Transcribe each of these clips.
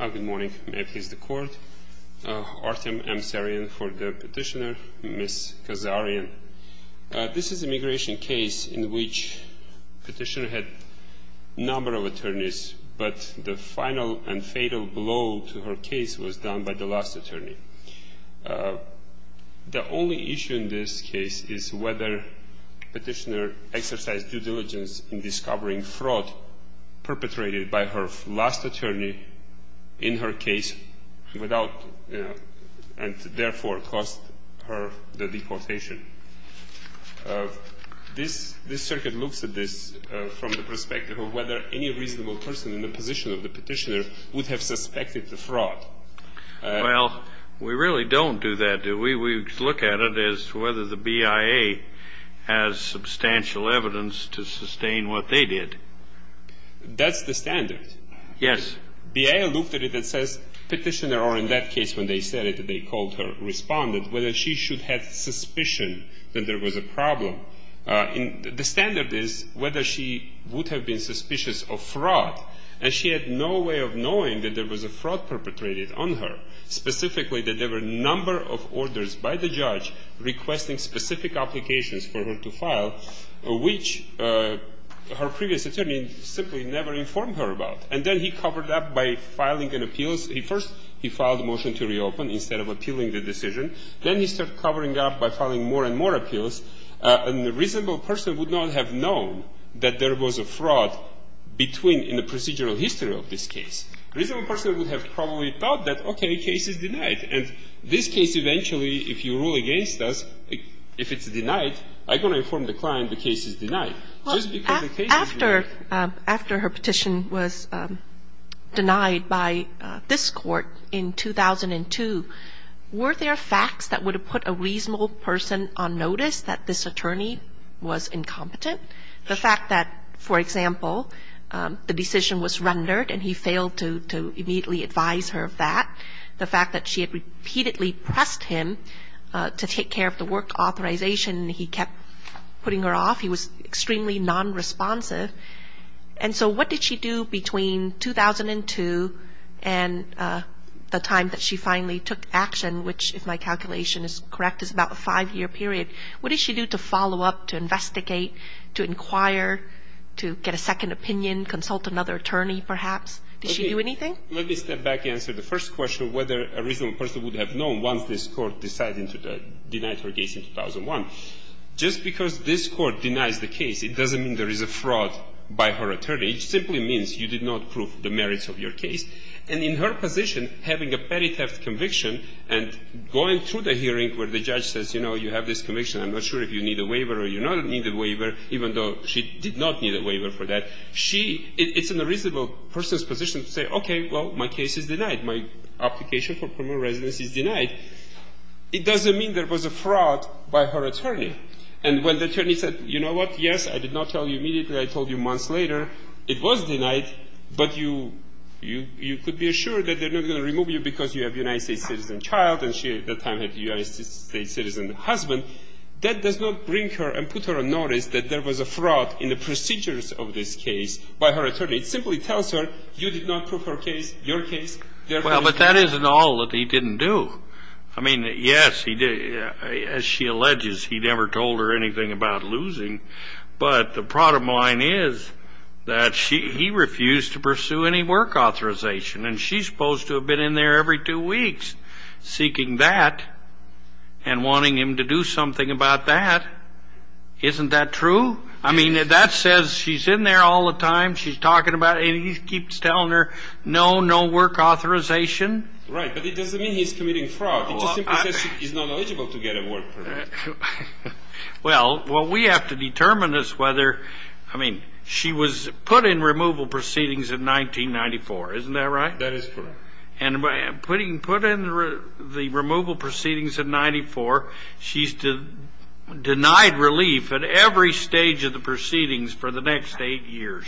Good morning. May it please the Court. Artem M. Sarian for the petitioner, Ms. Kazaryan. This is an immigration case in which the petitioner had a number of attorneys, but the final and fatal blow to her case was done by the last attorney. The only issue in this case is whether the petitioner exercised due diligence in discovering fraud perpetrated by her last attorney in her case without, and therefore caused her the deportation. This circuit looks at this from the perspective of whether any reasonable person in the position of the petitioner would have suspected the fraud. Well, we really don't do that, do we? We look at it as whether the BIA has substantial evidence to sustain what they did. That's the standard. Yes. BIA looked at it and says, petitioner, or in that case when they said it, they called her, responded, whether she should have suspicion that there was a problem. The standard is whether she would have been suspicious of fraud. And she had no way of knowing that there was a fraud perpetrated on her, specifically that there were a number of orders by the judge requesting specific applications for her to file, which her previous attorney simply never informed her about. And then he covered up by filing an appeal. He first, he filed a motion to reopen instead of appealing the decision. Then he started covering up by filing more and more appeals. And a reasonable person would not have known that there was a fraud between the procedural history of this case. Reasonable person would have probably thought that, okay, the case is denied. And this case eventually, if you rule against us, if it's denied, I'm going to inform the client the case is denied. Well, after her petition was denied by this court in 2002, were there facts that would have put a reasonable person on notice that this attorney was incompetent? The fact that, for example, the decision was rendered and he failed to immediately advise her of that. The fact that she had repeatedly pressed him to take care of the work authorization. He kept putting her off. He was extremely nonresponsive. And so what did she do between 2002 and the time that she finally took action, which, if my calculation is correct, is about a five-year period? What did she do to follow up, to investigate, to inquire, to get a second opinion, consult another attorney perhaps? Did she do anything? Let me step back and answer the first question of whether a reasonable person would have known once this court decided to deny her case in 2001. Just because this court denies the case, it doesn't mean there is a fraud by her attorney. It simply means you did not prove the merits of your case. And in her position, having a petty theft conviction and going through the hearing where the judge says, you know, you have this conviction. I'm not sure if you need a waiver or you don't need a waiver, even though she did not need a waiver for that. It's in a reasonable person's position to say, okay, well, my case is denied. My application for permanent residence is denied. It doesn't mean there was a fraud by her attorney. And when the attorney said, you know what, yes, I did not tell you immediately. I told you months later. It was denied. But you could be assured that they're not going to remove you because you have a United States citizen child. And she at that time had a United States citizen husband. That does not bring her and put her on notice that there was a fraud in the procedures of this case by her attorney. It simply tells her you did not prove her case, your case. Well, but that isn't all that he didn't do. I mean, yes, he did. As she alleges, he never told her anything about losing. But the problem line is that she he refused to pursue any work authorization. And she's supposed to have been in there every two weeks seeking that and wanting him to do something about that. Isn't that true? I mean, that says she's in there all the time. She's talking about it. And he keeps telling her, no, no work authorization. Right. But it doesn't mean he's committing fraud. It just simply says he's not eligible to get a work permit. Well, what we have to determine is whether, I mean, she was put in removal proceedings in 1994. Isn't that right? That is correct. And put in the removal proceedings in 1994, she's denied relief at every stage of the proceedings for the next eight years.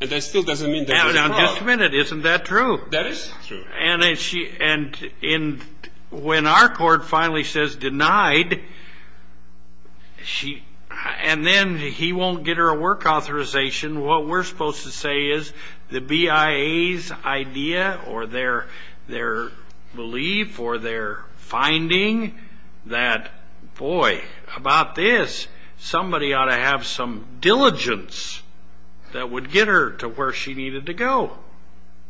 And that still doesn't mean that there's fraud. Now, just a minute. Isn't that true? That is true. And when our court finally says denied, and then he won't get her a work authorization, what we're supposed to say is the BIA's idea or their belief or their finding that, boy, about this, somebody ought to have some diligence that would get her to where she needed to go.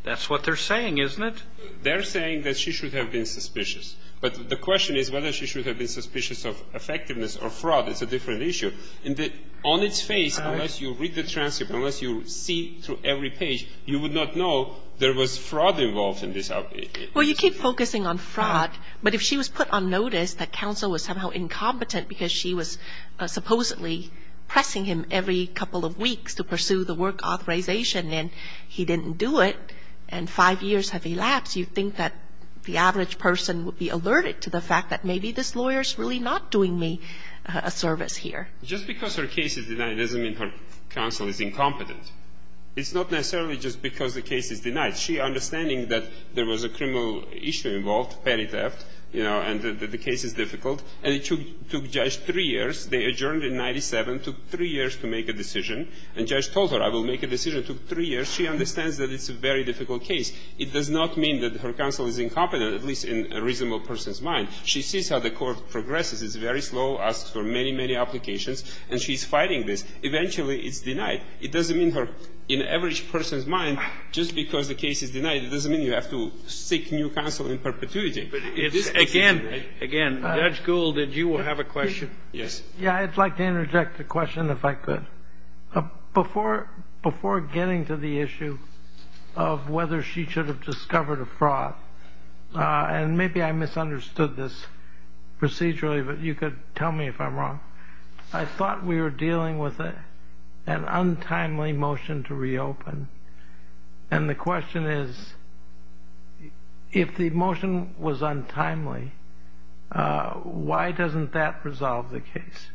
That's what they're saying, isn't it? They're saying that she should have been suspicious. But the question is whether she should have been suspicious of effectiveness or fraud. It's a different issue. On its face, unless you read the transcript, unless you see through every page, you would not know there was fraud involved in this. Well, you keep focusing on fraud. But if she was put on notice that counsel was somehow incompetent because she was supposedly pressing him every couple of weeks to pursue the work authorization, and he didn't do it, and five years have elapsed, you'd think that the average person would be alerted to the fact that Just because her case is denied doesn't mean her counsel is incompetent. It's not necessarily just because the case is denied. She understanding that there was a criminal issue involved, petty theft, you know, and that the case is difficult, and it took Judge three years. They adjourned in 97, took three years to make a decision. And Judge told her, I will make a decision, took three years. She understands that it's a very difficult case. It does not mean that her counsel is incompetent, at least in a reasonable person's mind. She sees how the court progresses. It's very slow, asks for many, many applications, and she's fighting this. Eventually, it's denied. It doesn't mean her, in an average person's mind, just because the case is denied, it doesn't mean you have to seek new counsel in perpetuity. But it's, again, again, Judge Gould, did you have a question? Yes. Yeah, I'd like to interject a question if I could. Before getting to the issue of whether she should have discovered a fraud, and maybe I misunderstood this procedurally, but you could tell me if I'm wrong. I thought we were dealing with an untimely motion to reopen. And the question is, if the motion was untimely, why doesn't that resolve the case?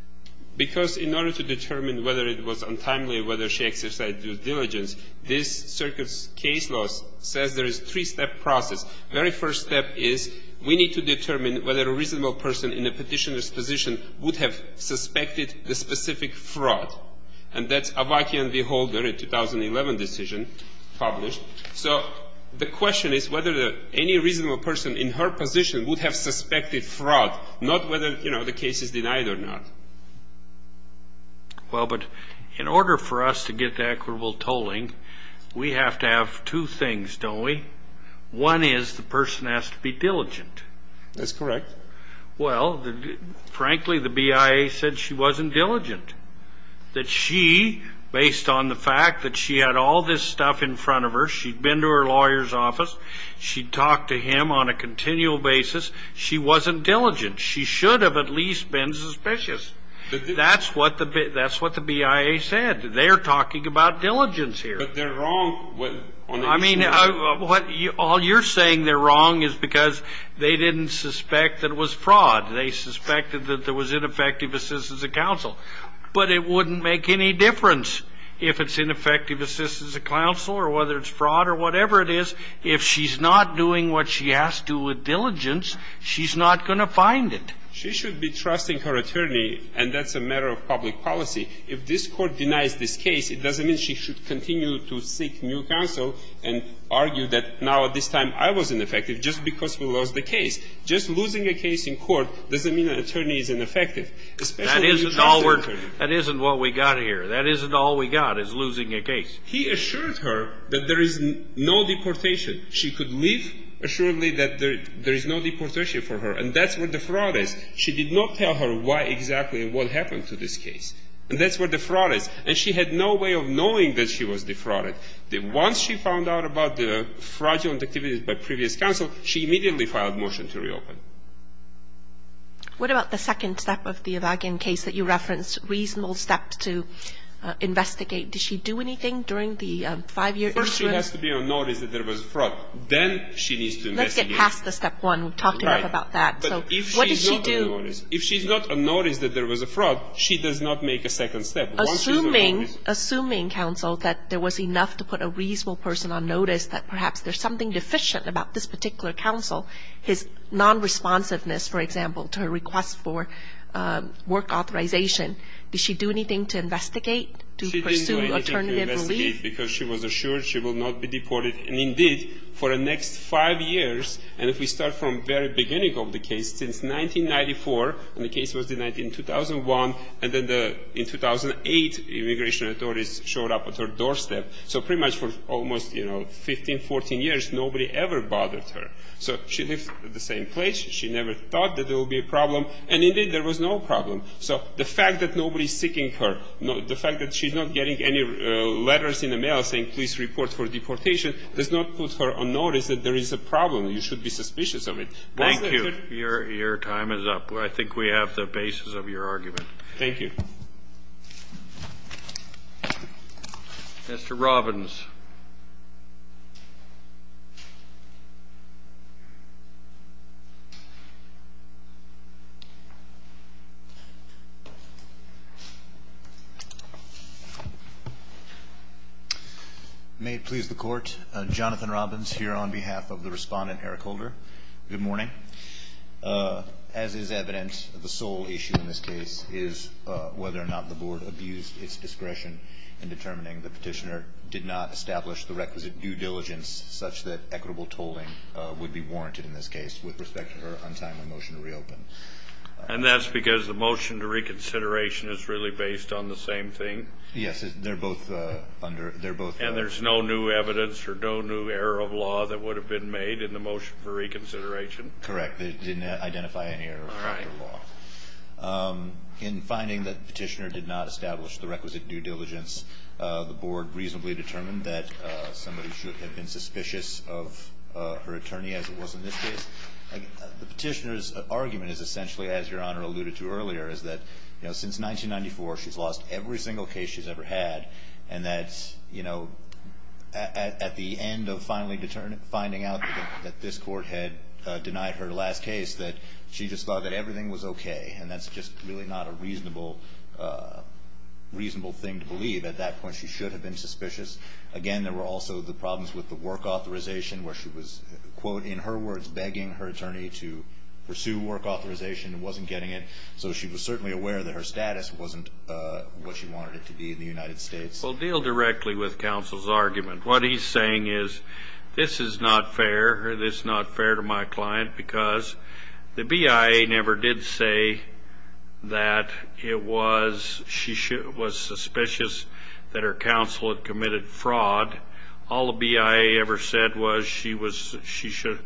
Because in order to determine whether it was untimely, whether she exercised due diligence, this circuit's case law says there is a three-step process. Very first step is, we need to determine whether a reasonable person in a petitioner's position would have suspected the specific fraud. And that's Avakian v. Holder, a 2011 decision published. So the question is whether any reasonable person in her position would have suspected fraud, not whether, you know, the case is denied or not. Well, but in order for us to get to equitable tolling, we have to have two things, don't we? One is, the person has to be diligent. That's correct. Well, frankly, the BIA said she wasn't diligent. That she, based on the fact that she had all this stuff in front of her, she'd been to her lawyer's office, she'd talked to him on a continual basis, she wasn't diligent. She should have at least been suspicious. That's what the BIA said. They're talking about diligence here. But they're wrong on the... I mean, all you're saying they're wrong is because they didn't suspect that it was fraud. They suspected that there was ineffective assistance of counsel. But it wouldn't make any difference if it's ineffective assistance of counsel or whether it's fraud or whatever it is. If she's not doing what she has to with diligence, she's not going to find it. She should be trusting her attorney, and that's a matter of public policy. If this was ineffective assistance of counsel and argued that now at this time I was ineffective just because we lost the case, just losing a case in court doesn't mean an attorney is ineffective. That isn't what we got here. That isn't all we got is losing a case. He assured her that there is no deportation. She could leave assuredly that there is no deportation for her. And that's where the fraud is. She did not tell her why exactly and what happened to this case. And that's where the fraud is. And she had no way of knowing that she was defrauded. Once she found out about the fraudulent activities by previous counsel, she immediately filed a motion to reopen. What about the second step of the Evagen case that you referenced, reasonable steps to investigate? Did she do anything during the five-year? First, she has to be unnoticed that there was a fraud. Then she needs to investigate. Let's get past the step one. We've talked enough about that. Right. So what did she do? If she's not unnoticed that there was a fraud, she does not make a second step. Assuming, assuming counsel that there was enough to put a reasonable person on notice that perhaps there's something deficient about this particular counsel, his non-responsiveness, for example, to her request for work authorization, does she do anything to investigate? She didn't do anything to investigate because she was assured she will not be deported. And indeed, for the next five years, and if we start from the very beginning of the case, since 1994, and the case was denied in 2001, and then in 2008, immigration authorities showed up at her doorstep. So pretty much for almost, you know, 15, 14 years, nobody ever bothered her. So she lived at the same place. She never thought that there would be a problem. And indeed, there was no problem. So the fact that nobody's seeking her, the fact that she's not getting any letters in the mail saying, please report for deportation, does not put her on notice that there is a problem. You should be suspicious of it. Thank you. Your time is up. I think we have the basis of your argument. Thank you. Mr. Robbins. May it please the Court, Jonathan Robbins here on behalf of the respondent, Good morning. As is evident, the sole issue in this case is whether or not the Board abused its discretion in determining the petitioner did not establish the requisite due diligence such that equitable tolling would be warranted in this case with respect to her untimely motion to reopen. And that's because the motion to reconsideration is really based on the same thing? Yes, they're both under, they're both. And there's no new evidence or no new error of law that would have been made in the motion for reconsideration? Correct. They didn't identify any error of law. In finding that the petitioner did not establish the requisite due diligence, the Board reasonably determined that somebody should have been suspicious of her attorney as it was in this case. The petitioner's argument is essentially, as Your Honor alluded to earlier, is that since 1994, she's lost every single case she's ever had, and that at the end of finally finding out that this court had denied her last case, that she just thought that everything was okay. And that's just really not a reasonable thing to believe. At that point, she should have been suspicious. Again, there were also the problems with the work authorization where she was, quote, in her words, begging her attorney to pursue work authorization and wasn't getting it. So she was certainly aware that her status wasn't what she wanted it to be in the United States. Well, deal directly with counsel's argument. What he's saying is, this is not fair, or this is not fair to my client, because the BIA never did say that it was... She was suspicious that her counsel had committed fraud. All the BIA ever said was she should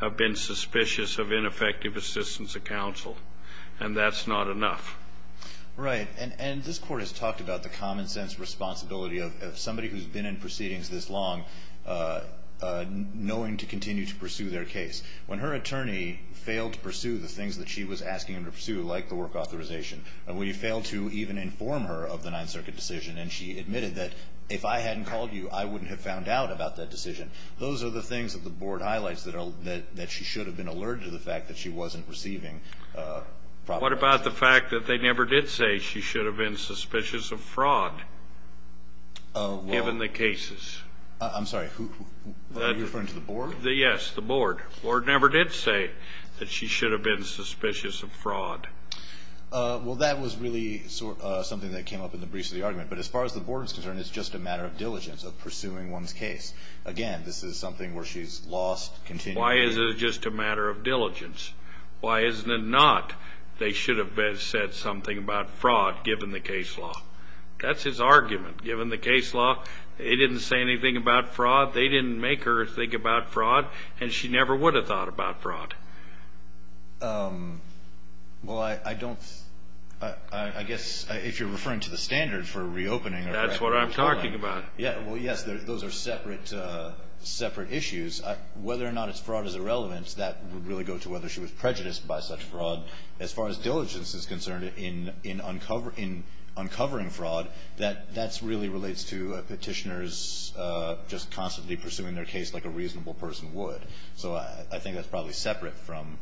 have been suspicious of ineffective assistance of counsel, and that's not enough. Right. And this court has talked about the common sense responsibility of somebody who's been in proceedings this long knowing to continue to pursue their case. When her attorney failed to pursue the things that she was asking him to pursue, like the work authorization, or when you failed to even inform her of the Ninth Circuit decision, and she admitted that, if I hadn't called you, I wouldn't have found out about that decision. Those are the things that the board highlights that she should have been alerted to the fact that she wasn't receiving proper... What about the fact that they never did say she should have been suspicious of fraud, given the cases? I'm sorry, are you referring to the board? Yes, the board. The board never did say that she should have been suspicious of fraud. Well, that was really something that came up in the briefs of the argument, but as far as the board is concerned, it's just a matter of diligence of pursuing one's case. Again, this is something where she's lost... Why is it just a matter of diligence? Why isn't it that they should have said something about fraud, given the case law? That's his argument. Given the case law, he didn't say anything about fraud, they didn't make her think about fraud, and she never would have thought about fraud. Well, I don't... I guess if you're referring to the standard for reopening... That's what I'm talking about. Yeah, well, yes, those are separate issues. Whether or not it's fraud is irrelevant, that would really go to whether she was prejudiced by such fraud. As far as diligence is concerned in uncovering fraud, that really relates to Petitioners just constantly pursuing their case like a reasonable person would. So I think that's probably separate from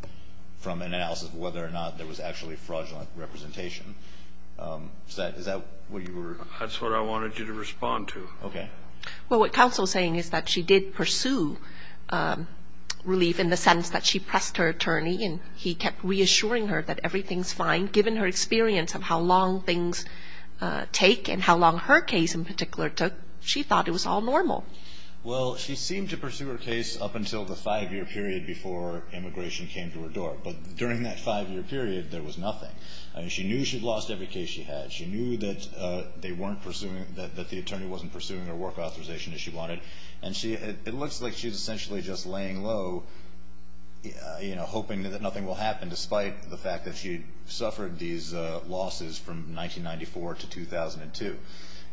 an analysis of whether or not there was actually fraudulent representation. Is that what you were... That's what I wanted you to respond to. Okay. Well, what counsel's saying is that she did pursue relief in the attorney, and he kept reassuring her that everything's fine, given her experience of how long things take and how long her case in particular took, she thought it was all normal. Well, she seemed to pursue her case up until the five year period before immigration came to her door, but during that five year period, there was nothing. She knew she'd lost every case she had, she knew that they weren't pursuing... That the attorney wasn't pursuing her work authorization as she wanted, and it looks like she's essentially just laying low, hoping that nothing will happen despite the fact that she suffered these losses from 1994 to 2002.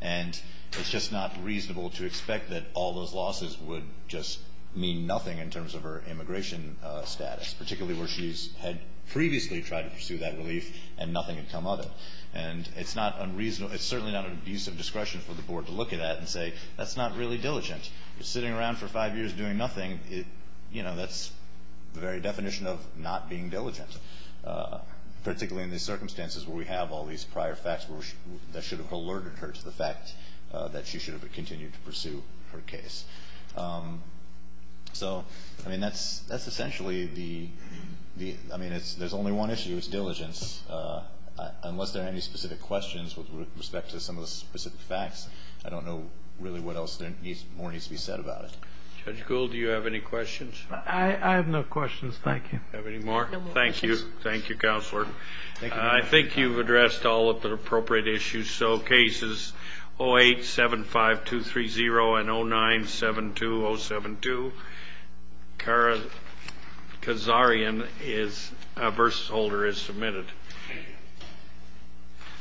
And it's just not reasonable to expect that all those losses would just mean nothing in terms of her immigration status, particularly where she's had previously tried to pursue that relief and nothing had come of it. And it's not unreasonable... It's certainly not an abuse of discretion for the board to look at that and say, that's not really diligent. You're sitting around for five years doing nothing, that's the very definition of not being diligent, particularly in these circumstances where we have all these prior facts that should have alerted her to the fact that she should have continued to pursue her case. So, I mean, that's essentially the... I mean, there's only one issue, it's diligence. Unless there are any specific questions with respect to some of the specific facts, I don't know really what else more needs to be discussed. Judge Gould, do you have any questions? I have no questions, thank you. Do you have any more? Thank you. Thank you, Counselor. I think you've addressed all of the appropriate issues, so cases 0875230 and 0972072, Kara Kazarian is... A verse holder is submitted.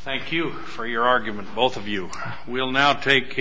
Thank you for your argument, both of you. We'll now take